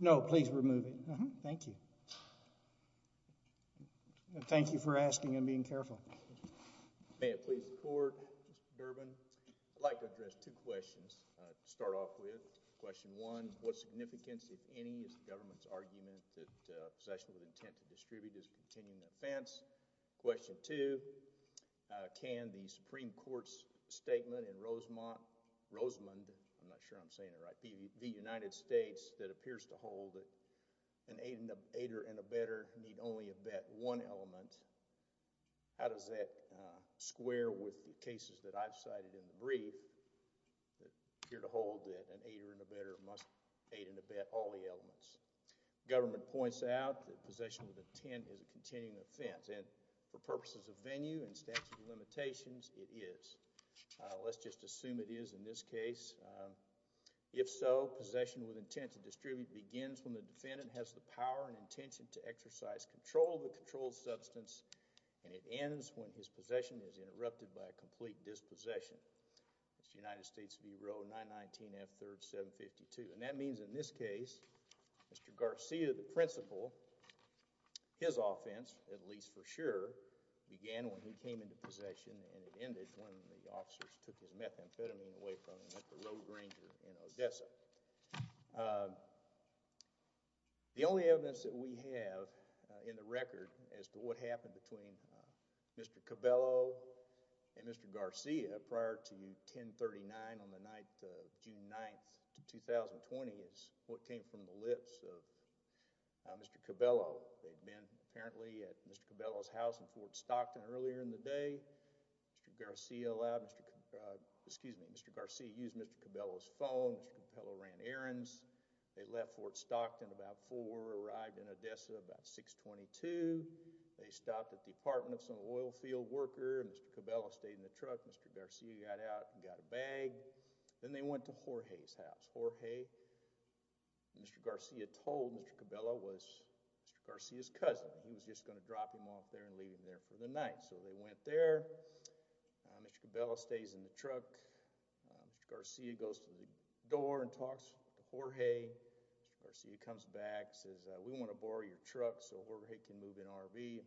No, please remove it. Thank you. Thank you for asking and being careful. May it please the court, Mr. Durbin. I'd like to address two questions to start off with. Question one, what significance, if any, is the government's argument that possession with intent to distribute is a continuing offense? Question two, can the Supreme Court's statement in Rosemont, Rosemond, I'm not sure I'm saying it right, the United States that appears to hold that an aider and abetter need only abet one element, how does that square with the cases that I've cited in the brief that appear to hold that an aider and abetter must aid and abet all the elements? Government points out that possession with intent is a continuing offense and for purposes of venue and statute of limitations, it is. Let's just assume it is in this case. If so, possession with intent to distribute begins when the defendant has the power and intention to exercise control of the controlled substance and it ends when his possession is interrupted by a complete dispossession. Mr. United States v. Roe 919 F3rd 752. And that means in this case, Mr. Garcia, the principal, his offense, at least for sure, began when he came into possession and it ended when the officers took his methamphetamine away from him at the Road Ranger in Odessa. The only evidence that we have in the record as to what happened between Mr. Cabello and Mr. Garcia prior to 1039 on the night of June 9th, 2020 is what came from the lips of Mr. Cabello. They'd been apparently at Mr. Cabello's house in Fort Stockton earlier in the day. Mr. Garcia used Mr. Cabello's phone. Mr. Cabello ran errands. They left Fort Stockton about 4, arrived in Odessa about 622. They stopped at the apartment of some oil field worker. Mr. Cabello stayed in the truck. Mr. Garcia got out and got a bag. Then they went to Jorge's house. Jorge, Mr. Garcia told Mr. Cabello, was Mr. Garcia's cousin. He was just going to drop him off there and leave him there for the night. So they went there. Mr. Cabello stays in the truck. Mr. Garcia goes to the door and talks to Jorge. Mr. Garcia comes back, says, we want to borrow your truck so Jorge can move an RV.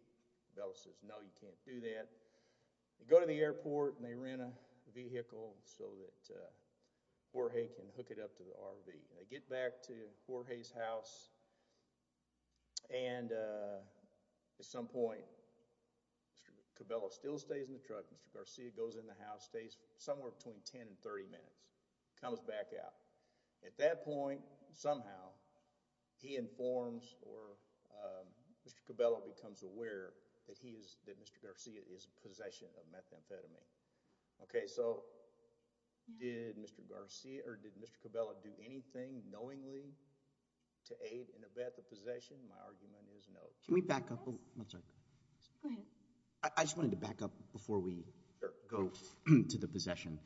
Cabello says, no, you can't do that. They go to the airport and they rent a vehicle so that Jorge can hook it up to the RV. They get back to Jorge's house and at some point, Mr. Cabello still stays in the truck. Mr. Garcia goes in the house, stays somewhere between 10 and 30 minutes, comes back out. At that point, somehow, he informs or Mr. Cabello becomes aware that he is, that Mr. Garcia is in possession of methamphetamine. Okay, so did Mr. Garcia or did Mr. Cabello do anything knowingly to aid in the possession? My argument is no. Can we back up? I'm sorry. Go ahead. I just wanted to back up before we go to the possession.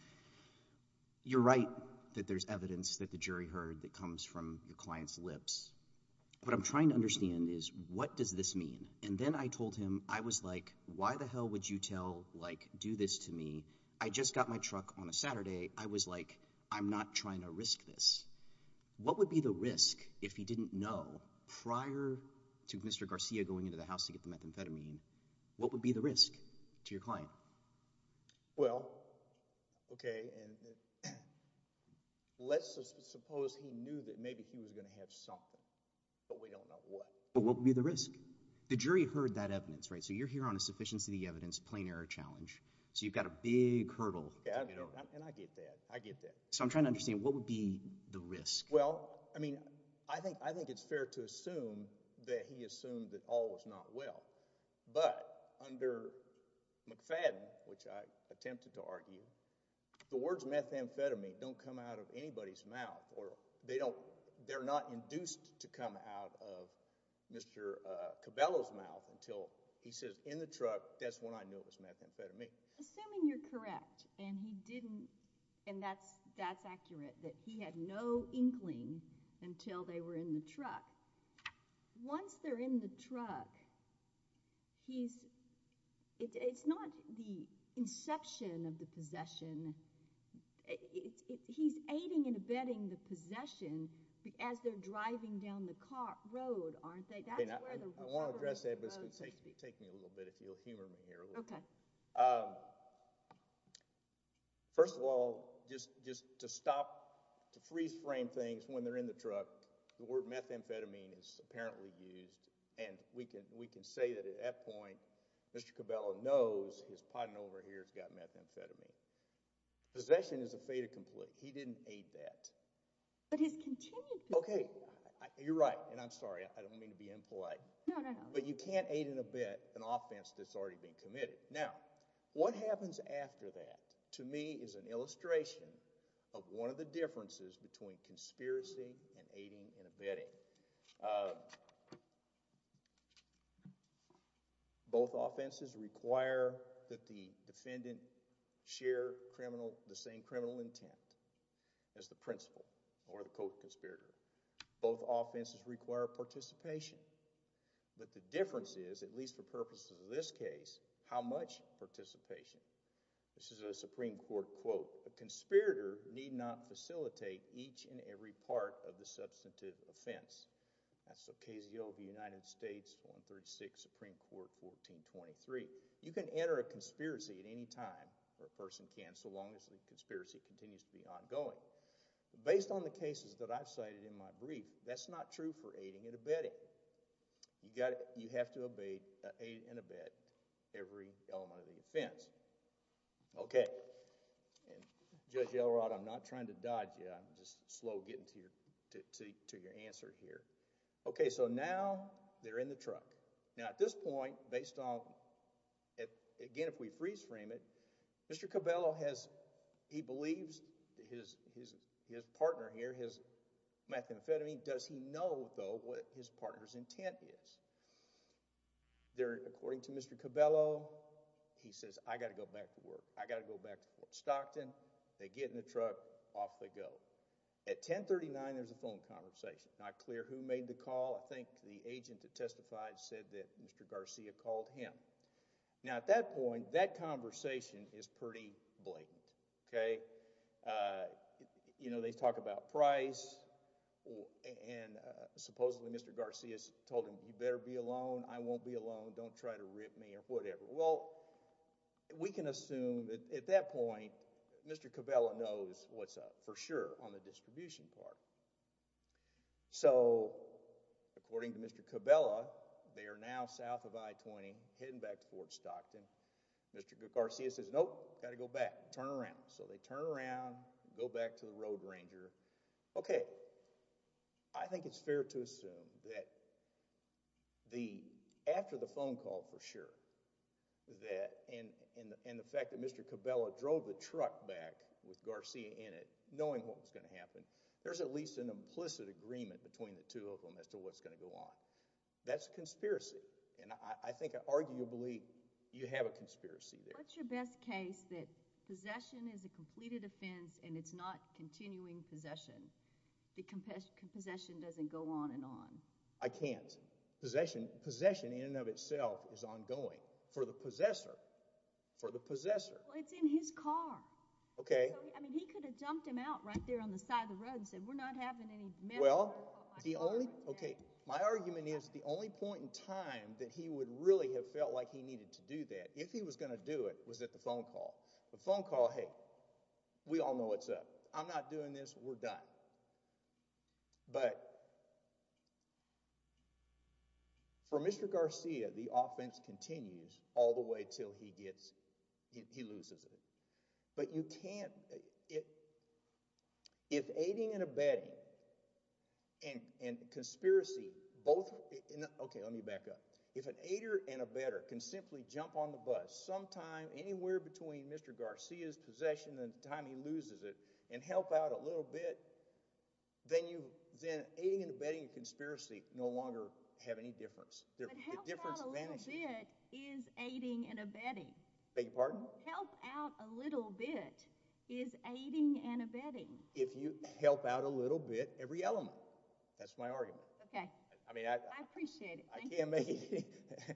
You're right that there's evidence that the jury heard that comes from your client's lips. What I'm trying to understand is what does this mean? And then I told him, I was like, why the hell would you tell, like, do this to me? I just got my truck on a Saturday. I was like, I'm not trying to risk this. What would be the risk if he didn't know prior to Mr. Garcia going into the house to get the methamphetamine? What would be the risk to your client? Well, okay. And let's suppose he knew that maybe he was going to have something, but we don't know what. But what would be the risk? The jury heard that evidence, right? So you're here on a sufficiency of the evidence, plain error challenge. So you've got a big hurdle. And I get that. I get that. So I'm trying to understand what would be the risk? Well, I mean, I think it's fair to assume that he assumed that all was not well. But under McFadden, which I attempted to argue, the words methamphetamine don't come out of anybody's mouth. They don't seem to come out of Mr. Cabello's mouth until he says in the truck, that's when I knew it was methamphetamine. Assuming you're correct, and he didn't, and that's accurate, that he had no inkling until they were in the truck. Once they're in the truck, it's not the inception of the possession. He's aiding and abetting the possession as they're driving down the road, aren't they? I want to address that, but it's going to take me a little bit if you'll humor me here. First of all, just to freeze frame things when they're in the truck, the word methamphetamine is apparently used. And we can say that at that point, Mr. Cabello knows he's potting over here, he's got methamphetamine. Possession is a fait accompli. He didn't aid that. But he's continued to do that. Okay, you're right. And I'm sorry, I don't mean to be impolite. No, no, no. But you can't aid and abet an offense that's already been committed. Now, what happens after that, to me, is an illustration of one of the differences between conspiracy and aiding and abetting. Both offenses require that the defendant share the same criminal intent as the principal or the co-conspirator. Both offenses require participation. But the difference is, at least for purposes of this case, how much participation. This is a Supreme Court quote, a conspirator need not facilitate each and every part of the substantive offense. That's Ocasio of the United States, 136, Supreme Court, 1423. You can enter a conspiracy at any time, or a person can, so long as the conspiracy continues to be ongoing. Based on the cases that I've cited in my brief, that's not true for aiding and abetting. You have to aid and abet every element of the offense. Okay. And Judge Elrod, I'm not trying to dodge you. I'm just slow getting to your answer here. Okay. So now they're in the truck. Now, at this point, based on, again, if we freeze frame it, Mr. Cabello, he believes his partner here, his methamphetamine, does he know, though, what his partner's intent is? According to Mr. Cabello, he says, I got to go back to work. I got to go back to work. Stockton, they get in the truck, off they go. At 1039, there's a phone conversation. Not clear who made the call. I think the agent that testified said that Mr. Garcia called him. Now, at that point, that conversation is pretty blatant. Okay. You know, they talk about price, and supposedly Mr. Garcia told him, you better be alone, I won't be alone, don't try to rip me, or whatever. Well, we can assume at that point, Mr. Cabello knows what's up, for sure, on the distribution part. So, according to Mr. Cabello, they are now south of I-20, heading back towards Stockton. Mr. Garcia says, nope, got to go back, turn around. So they turn around, go back to the road ranger. Okay. I think it's fair to assume that after the phone call, for sure, and the fact that Mr. Cabello drove the truck back with Garcia in it, knowing what was going to happen, there's at least an implicit agreement between the two of them as to what's going to go on. That's a conspiracy. And I think, arguably, you have a conspiracy there. What's your best case that possession is a completed offense and it's not continuing possession, that possession doesn't go on and on? I can't. Possession, in and of itself, is ongoing, for the possessor, for the possessor. Well, it's in his car. Okay. I mean, he could have jumped him out right there on the side of the road and said, we're not having any men on the road. Well, my argument is, the only point in time that he would really have felt like he needed to do that, if he was going to do it, was at the phone call. The phone call, hey, we all know what's up. I'm not doing this, we're done. But, for Mr. Garcia, the offense continues all the way till he gets, he loses it. But you can't, if aiding and abetting, and conspiracy, both, okay, let me back up. If an aider and abetter can simply jump on the bus sometime, anywhere between Mr. Garcia's time and the time he loses it, and help out a little bit, then aiding and abetting and conspiracy no longer have any difference. But help out a little bit is aiding and abetting. Beg your pardon? Help out a little bit is aiding and abetting. If you help out a little bit, every element. That's my argument. Okay. I appreciate it. Can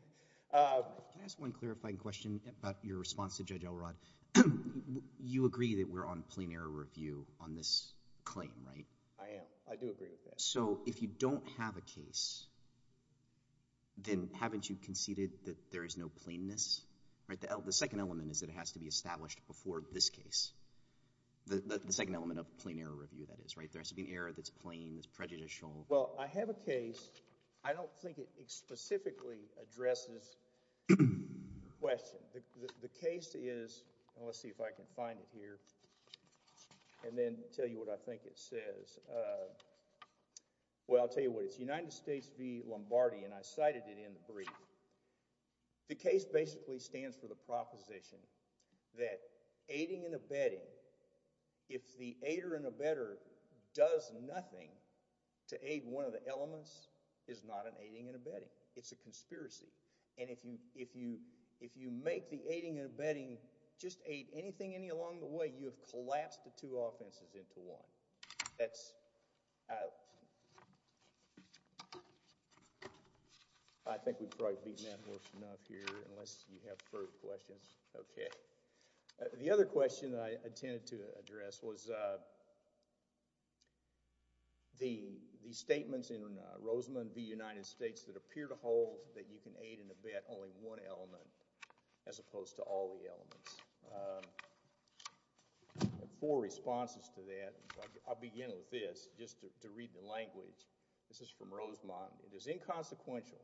I ask one clarifying question about your response to Judge Elrod? You agree that we're on plain error review on this claim, right? I am. I do agree with that. So, if you don't have a case, then haven't you conceded that there is no plainness, right? The second element is that it has to be established before this case. The second element of plain error review, that is, right? There has to be an error that's plain, that's prejudicial. Well, I have a case. I don't think it specifically addresses the question. The case is, let's see if I can find it here and then tell you what I think it says. Well, I'll tell you what. It's United States v. Lombardi, and I cited it in the brief. The case basically stands for the proposition that aiding and abetting, if the aider and abetter does nothing to aid one of the elements, is not an aiding and abetting. It's a conspiracy. And if you make the aiding and abetting just aid anything any along the way, you have collapsed the two offenses into one. That's out. I think we've probably beaten that worse enough here, unless you have further questions. Okay. The other question I intended to address was the statements in Rosemond v. United States that appear to hold that you can aid and abet only one element, as opposed to all the elements. And four responses to that. I'll begin with this, just to read the language. This is from Rosemond. It is inconsequential,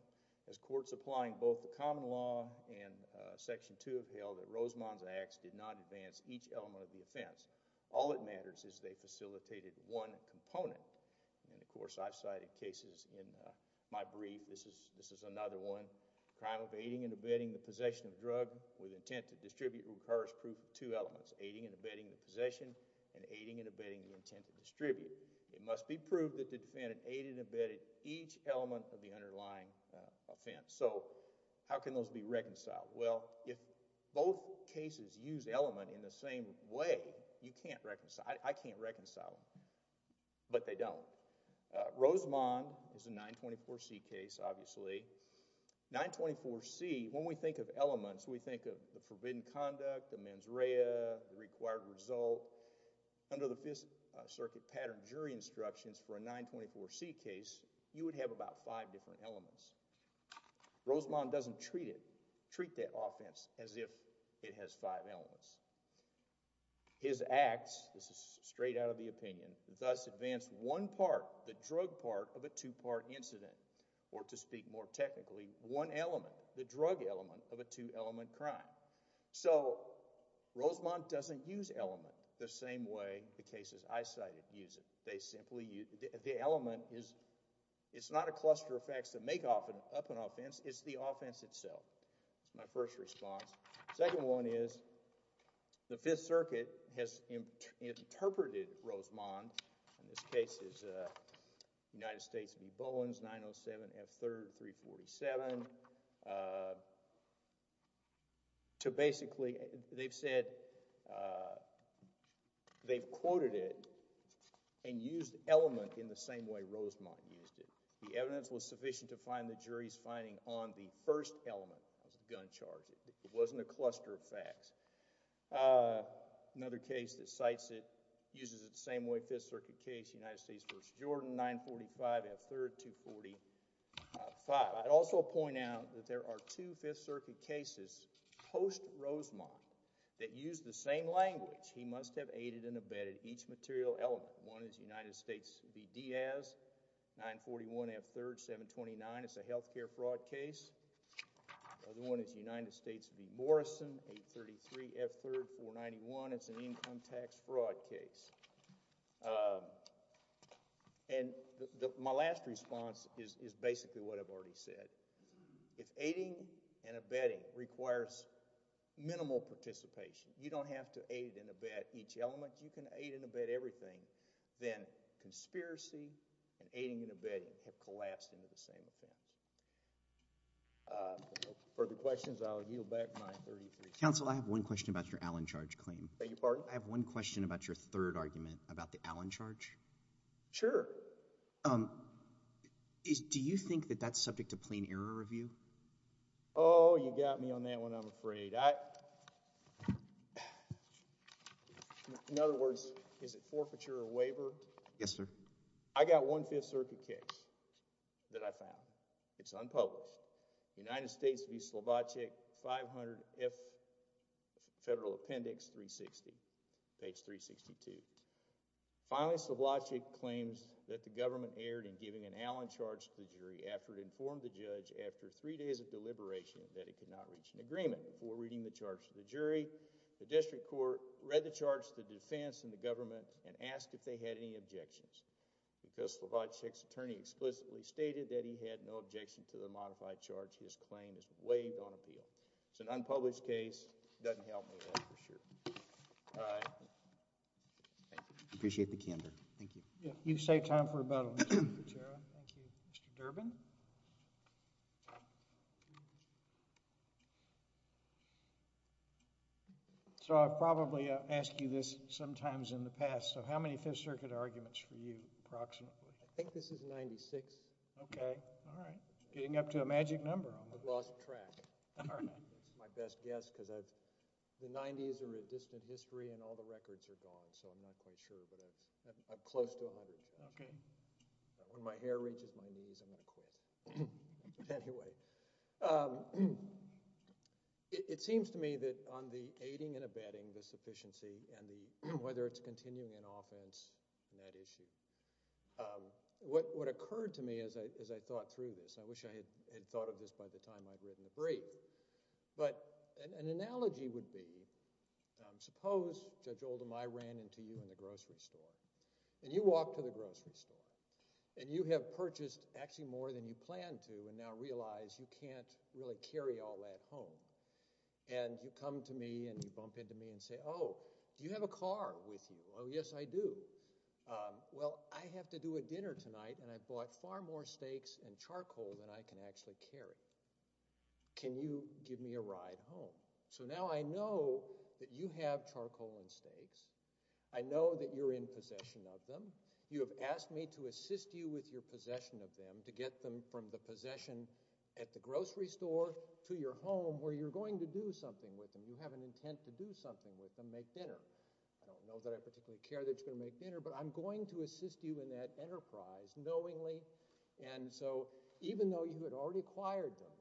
as courts applying both the common law and Section 2 have held, that Rosemond's acts did not advance each element of the offense. All that matters is they facilitated one component. And, of course, I've cited cases in my brief. This is another one. Crime of aiding and abetting the possession of a drug with intent to distribute requires proof of two elements, aiding and abetting the possession and aiding and abetting the intent to distribute. It must be proved that the defendant aided and abetted each element of the underlying offense. So how can those be reconciled? Well, if both cases use element in the same way, you can't reconcile. I can't reconcile them. But they don't. Rosemond is a 924C case, obviously. 924C, when we think of elements, we think of the forbidden conduct, the mens rea, the required result. Under the Fifth Circuit pattern jury instructions for a 924C case, you would have about five different elements. Rosemond doesn't treat that offense as if it has five elements. His acts, this is straight out of the opinion, thus advance one part, the drug part of a two-part incident, or to speak more technically, one element, the drug element of a two-element crime. So Rosemond doesn't use element the same way the cases I cited use it. The element is not a cluster of facts that make up an offense, it's the offense itself. That's my first response. Second one is, the Fifth Circuit has interpreted Rosemond, in this case it's United States v. Bowens, 907F3-347, to basically, they've said, they've quoted it and used element in the same way Rosemond used it. The evidence was sufficient to find the jury's finding on the first element of the gun charge. It wasn't a cluster of facts. Another case that cites it, uses it the same way, Fifth Circuit case, United States v. Jordan, 945F3-245. I'd also point out that there are two Fifth Circuit cases post-Rosemond that use the same language. He must have aided and abetted each material element. One is United States v. Diaz, 941F3-729, it's a healthcare fraud case. The other one is United States v. Morrison, 833F3-491, it's an income tax fraud case. And my last response is basically what I've already said. If aiding and abetting requires minimal participation, you don't have to aid and abet each element, you can aid and abet everything, then conspiracy and aiding and abetting have collapsed into the same effect. Further questions, I'll yield back my 33 seconds. Counsel, I have one question about your Allen charge claim. Beg your pardon? I have one question about your third argument about the Allen charge. Sure. Do you think that that's subject to plain error review? Oh, you got me on that one, I'm afraid. In other words, is it forfeiture or waiver? Yes, sir. I got one Fifth Circuit case that I found. It's unpublished. United States v. Slovacek, 500F Federal Appendix 360, page 362. Finally, Slovacek claims that the government erred in three days of deliberation, that it could not reach an agreement before reading the charge to the jury. The district court read the charge to the defense and the government and asked if they had any objections. Because Slovacek's attorney explicitly stated that he had no objection to the modified charge, his claim is waived on appeal. It's an unpublished case. It doesn't help me that for sure. I appreciate the candor. Thank you. Yeah, you've saved time for rebuttal, Mr. Cicero. Thank you. Mr. Durbin? So I've probably asked you this sometimes in the past, so how many Fifth Circuit arguments for you approximately? I think this is 96. Okay. All right. Getting up to a magic number. I've lost track. My best guess, because the 90s are a distant history and all the records are gone, so I'm not quite sure, but I'm close to 100. Okay. When my hair reaches my knees, I'm going to quit. Anyway, it seems to me that on the aiding and abetting the sufficiency and whether it's continuing an offense, that issue, what occurred to me as I thought through this, I wish I had thought of this by the time I'd written the brief, but an analogy would be, suppose, Judge Oldham, I ran into you in the grocery store and you walk to the grocery store and you have purchased actually more than you planned to and now realize you can't really carry all that home and you come to me and you bump into me and say, oh, do you have a car with you? Oh, yes, I do. Well, I have to do a dinner tonight and I bought far more steaks and charcoal than I can actually carry. Can you give me a ride home? So now I know that you have charcoal and steaks. I know that you're in possession of them. You have asked me to assist you with your possession of them to get them from the possession at the grocery store to your home where you're going to do something with them. You have an intent to do something with them, make dinner. I don't know that I particularly care that you're going to make dinner, but I'm going to assist you in that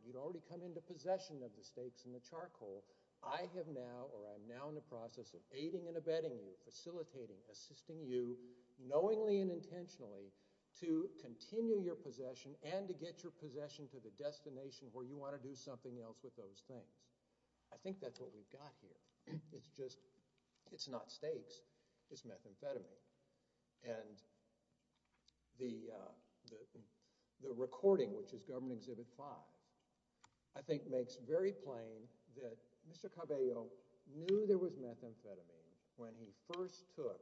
you'd already come into possession of the steaks and the charcoal. I have now or I'm now in the process of aiding and abetting you, facilitating, assisting you knowingly and intentionally to continue your possession and to get your possession to the destination where you want to do something else with those things. I think that's what we've got here. It's just, it's not the recording which is government exhibit five. I think makes very plain that Mr. Cabello knew there was methamphetamine when he first took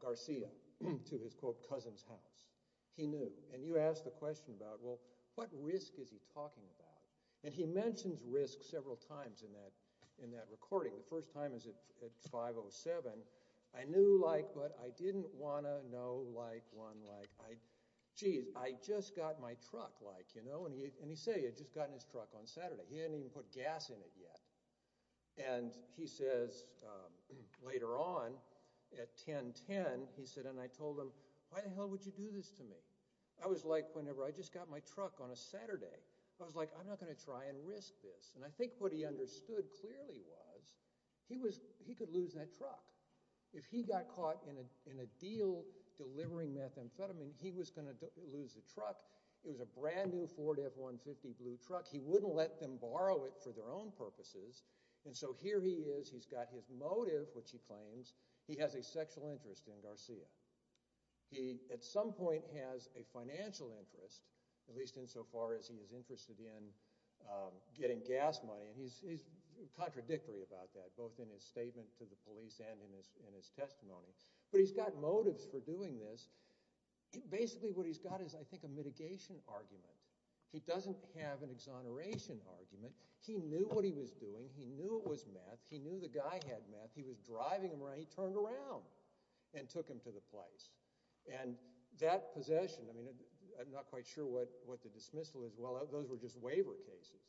Garcia to his quote cousin's house. He knew and you asked the question about well what risk is he talking about and he mentions risk several times in that recording. The first time is at 507. I knew like but I didn't want to know like one like I geez I just got my truck like you know and he said he had just gotten his truck on Saturday. He hadn't even put gas in it yet and he says later on at 1010 he said and I told him why the hell would you do this to me? I was like whenever I just got my truck on a Saturday. I was like I'm not going to try and risk this and I think what he understood clearly was he was he could lose that truck. If he got caught in a in a deal delivering methamphetamine he was going to lose the truck. It was a brand new Ford F-150 blue truck. He wouldn't let them borrow it for their own purposes and so here he is he's got his motive which he claims he has a sexual interest in Garcia. He at some point has a financial interest at least insofar as he is interested in getting gas money and he's contradictory about that both in his statement to the police and in his in his testimony but he's got motives for doing this. Basically what he's got is I think a mitigation argument. He doesn't have an exoneration argument. He knew what he was doing. He knew it was meth. He knew the guy had meth. He was driving him around. He turned around and took him to the place and that possession I mean I'm not quite sure what what the dismissal was. Well those were just waiver cases.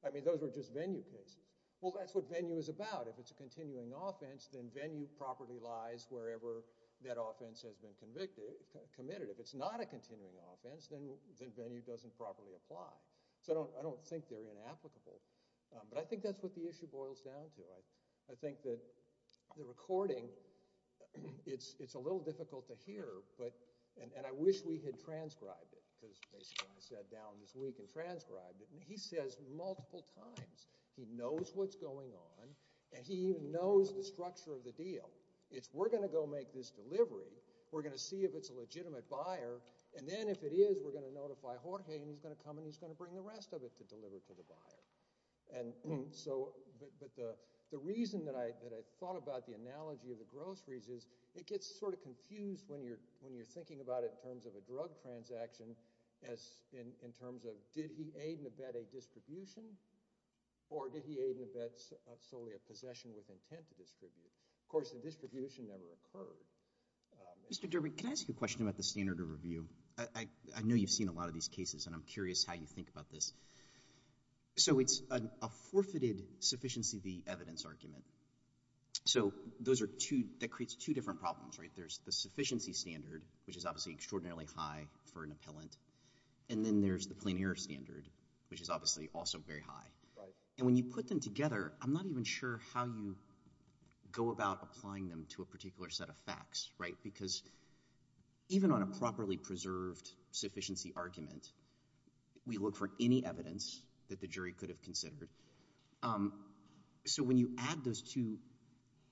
I mean those were just venue cases. Well that's what venue is about. If it's a continuing offense then venue properly lies wherever that offense has been convicted committed. If it's not a continuing offense then then venue doesn't properly apply. So I don't I don't think they're inapplicable but I think that's what the issue boils down to. I I think that the recording it's it's a little difficult to hear but and and I wish we had transcribed it because basically I sat down this week and transcribed it and he says multiple times he knows what's going on and he even knows the structure of the deal. It's we're going to go make this delivery. We're going to see if it's a legitimate buyer and then if it is we're going to notify Jorge and he's going to come and he's going to bring the rest of it to deliver to the buyer and so but the the reason that I that I thought about the analogy of the groceries is it gets sort of confused when you're when you're thinking about it in terms of a drug transaction as in in terms of did he aid and abet a distribution or did he aid and abets solely a possession with intent to distribute. Of course the distribution never occurred. Mr. Derby can I ask you a question about the standard of review. I I know you've seen a lot of these cases and I'm curious how you think about this. So it's a forfeited sufficiency the evidence argument. So those are two that creates two different problems right there's the sufficiency standard which is obviously extraordinarily high for an appellant and then there's the plein air standard which is obviously also very high and when you put them together I'm not even sure how you go about applying them to a particular set of facts right because even on a properly preserved sufficiency argument we look for any evidence that the jury could have considered. So when you add those two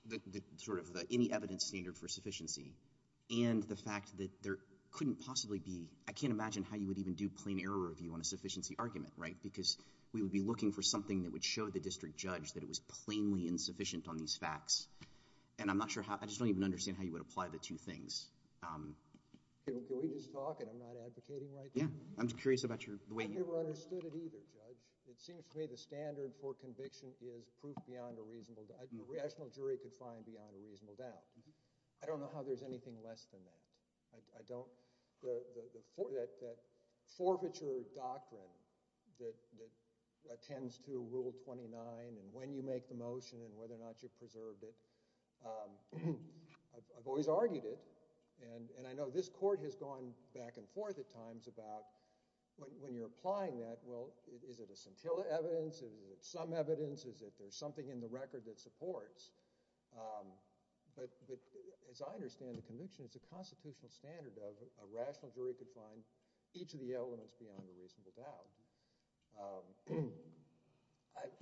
the sort of the any evidence standard for sufficiency and the fact that there couldn't possibly be I can't imagine how you would even do plein air review on a sufficiency argument right because we would be looking for something that would show the district judge that it was plainly insufficient on these facts and I'm not sure how I just don't even understand how you would apply the two things. Can we just talk and I'm not advocating right yeah I'm curious about your the way you were understood it either judge it seems to me the rational jury could find beyond a reasonable doubt. I don't know how there's anything less than that. I don't the that forfeiture doctrine that that attends to rule 29 and when you make the motion and whether or not you preserved it I've always argued it and and I know this court has gone back and forth at times about when you're applying that well is it a scintilla evidence is it some evidence is that there's something in the record that supports but but as I understand the conviction it's a constitutional standard of a rational jury could find each of the elements beyond a reasonable doubt.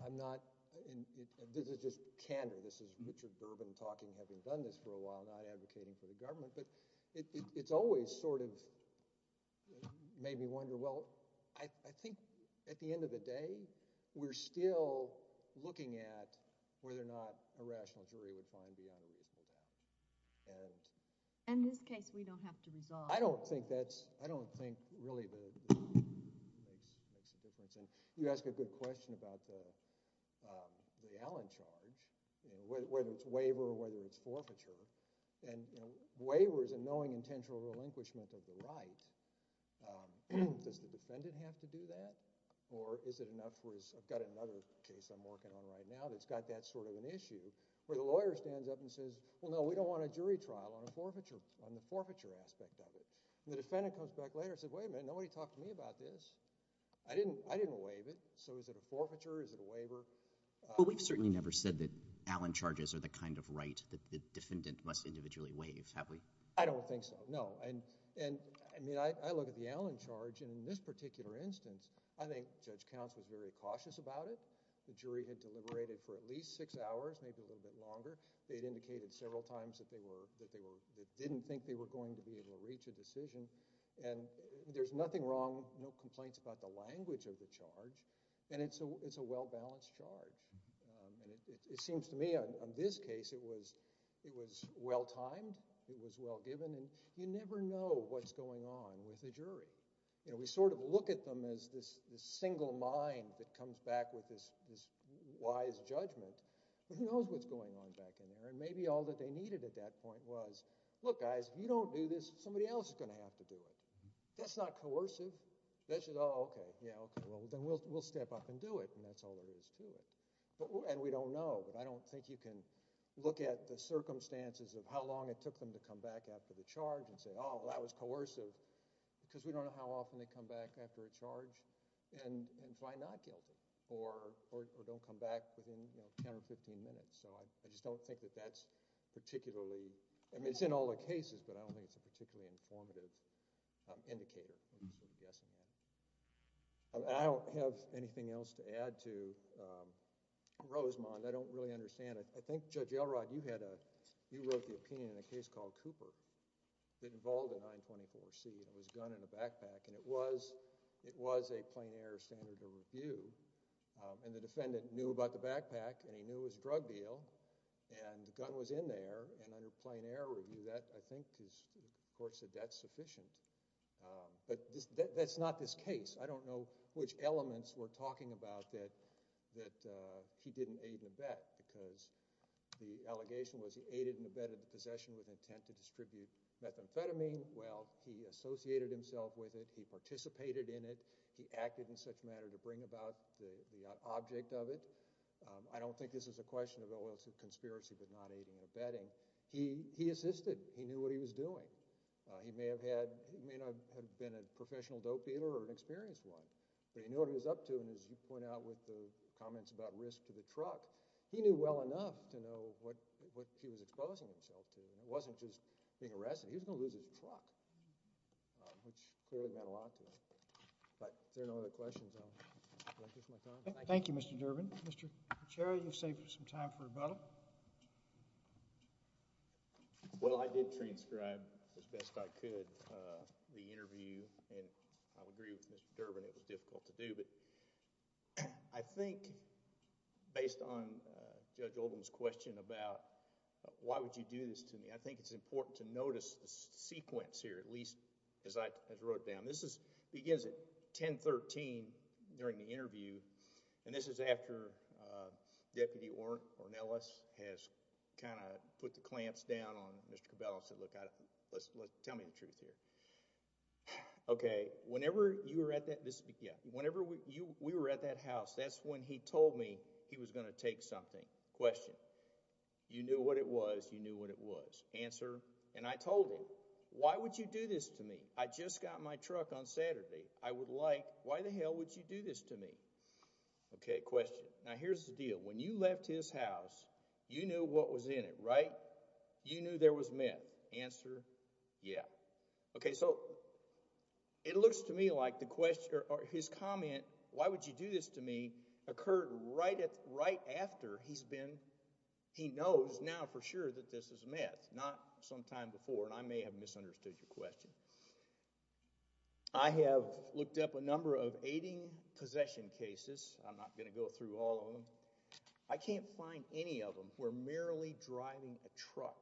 I'm not in this is just candor this is Richard Durbin talking having done this for a while not advocating for the government but it's always sort of made me wonder well I think at the end of the day we're still looking at whether or not a rational jury would find beyond a reasonable doubt and in this case we don't have to resolve I don't think that's I don't think really the makes a difference and you ask a good question about the Allen charge whether it's waiver or whether it's forfeiture and waiver is a knowing intentional relinquishment of the right does the defendant have to do that or is it enough where I've got another case I'm working on right now that's got that sort of an issue where the lawyer stands up and says well no we don't want a jury trial on a forfeiture on the forfeiture aspect of it the defendant comes back later said wait a minute nobody talked to me about this I didn't I didn't waive it so is it a forfeiture is it a waiver. Well we've certainly never said that Allen charges are the kind of right that the defendant must individually waive have we. I don't think so no and and I mean I look at the Allen charge in this particular instance I think Judge Counts was very cautious about it the jury had deliberated for at least six hours maybe a little bit longer they'd indicated several times that they were that they were that didn't think they were going to be able to reach a decision and there's nothing wrong no complaints about the language of the charge and it's a it's a well-balanced charge and it seems to me on this case it was it was well timed it was well given and you never know what's going on with the jury you know we sort of look at them as this this single mind that comes back with this this wise judgment but who knows what's going on back in there and maybe all that they needed at that point was look guys you don't do this somebody else is going to have to do it that's not coercive that's just oh okay yeah okay well then we'll step up and do it and that's all there is to it but and we don't know but I don't think you can look at the circumstances of how long it took them to come back after the charge and say oh that was coercive because we don't know how often they come back after a charge and and find not guilty or or don't come back within you know 10 or 15 minutes so I just don't think that that's particularly I mean it's in all the cases but I don't think it's a particularly informative indicator I'm guessing that I don't have anything else to add to um Rosemond I don't really understand it I think Judge Elrod you had a you wrote the opinion in a case called Cooper that involved a 924c it was a gun in a backpack and it was it was a plain air standard of review and the defendant knew about the backpack and he was in there and under plain air review that I think is of course that that's sufficient but that's not this case I don't know which elements were talking about that that uh he didn't aid in the bet because the allegation was he aided and abetted the possession with intent to distribute methamphetamine well he associated himself with it he participated in it he acted in such matter to bring about the the object of it I don't think this is a question of conspiracy but not aiding or abetting he he assisted he knew what he was doing he may have had he may not have been a professional dope dealer or an experienced one but he knew what he was up to and as you point out with the comments about risk to the truck he knew well enough to know what what he was exposing himself to it wasn't just being arrested he was gonna lose his truck which clearly meant a lot to him but if there are no other questions I'll take my time thank you Mr. Durbin Mr. Pichero you've saved some time for rebuttal well I did transcribe as best I could uh the interview and I'll agree with Mr. Durbin it was difficult to do but I think based on Judge Oldham's question about why would you do this to me I think it's important to notice the sequence here at least as I as wrote down this begins at 10 13 during the interview and this is after uh Deputy Ornelas has kind of put the clamps down on Mr. Cabello said look I don't let's tell me the truth here okay whenever you were at that this yeah whenever you we were at that house that's when he told me he was going to take something question you knew what it was you knew what it was answer and I told him why would you do this to me I just got my truck on Saturday I would like why the hell would you do this to me okay question now here's the deal when you left his house you knew what was in it right you knew there was meth answer yeah okay so it looks to me like the question or his comment why would you do this to me occurred right at right after he's been he knows now for sure that this is meth not sometime before and I may have misunderstood your question I have looked up a number of aiding possession cases I'm not going to go through all of them I can't find any of them we're merely driving a truck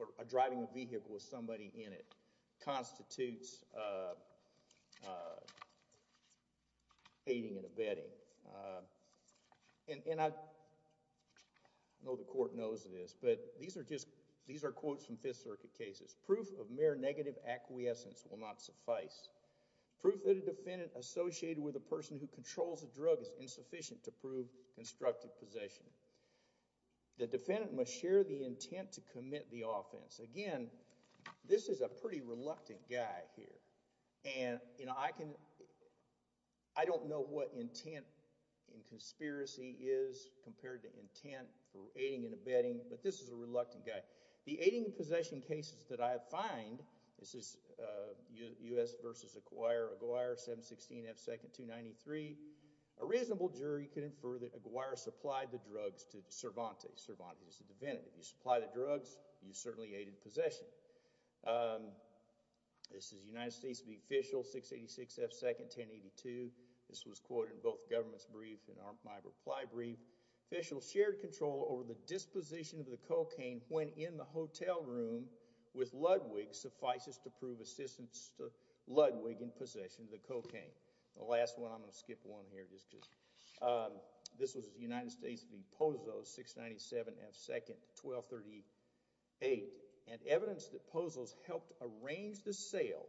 or driving a vehicle with somebody in it these are quotes from fifth circuit cases proof of mere negative acquiescence will not suffice proof that a defendant associated with a person who controls a drug is insufficient to prove constructive possession the defendant must share the intent to commit the offense again this is a pretty reluctant guy here and you know I can I don't know what intent in conspiracy is compared to intent for aiding and abetting but this is a reluctant guy the aiding and possession cases that I find this is uh u.s versus acquire aguire 716 f second 293 a reasonable jury can infer that aguire supplied the drugs to Cervantes Cervantes is a defendant if you supply the drugs you certainly aided possession um this is united states the official 686 f second 1082 this was both government's brief and my reply brief official shared control over the disposition of the cocaine when in the hotel room with ludwig suffices to prove assistance to ludwig in possession of the cocaine the last one i'm going to skip one here just because this was united states v pozo 697 f second 1238 and evidence that pozos helped arrange the sale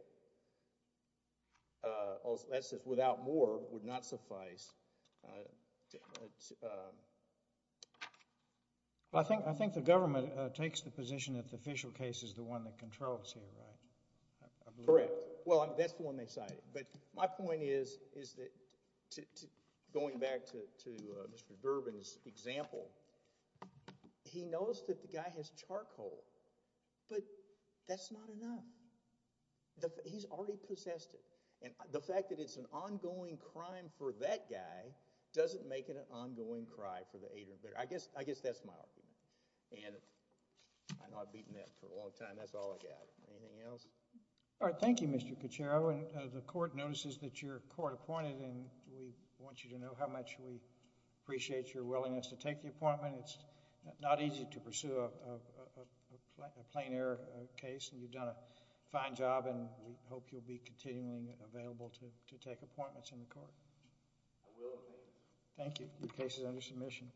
uh also that says without more would not suffice well I think I think the government takes the position that the official case is the one that controls here right correct well that's the one they cited but my point is is that to going back to to uh mr bourbon's example he knows that the guy has charcoal but that's not enough he's already possessed it and the fact that it's an ongoing crime for that guy doesn't make it an ongoing cry for the aid or bitter i guess i guess that's my argument and i know i've beaten that for a long time that's all i got anything else all right thank you mr cachero and the court notices that your court appointed and we want you to know how much we appreciate your willingness to take the appointment it's not easy to pursue a plain air case and you've done a fine job and we hope you'll be continually available to to take appointments in the court i will thank you your case is under submission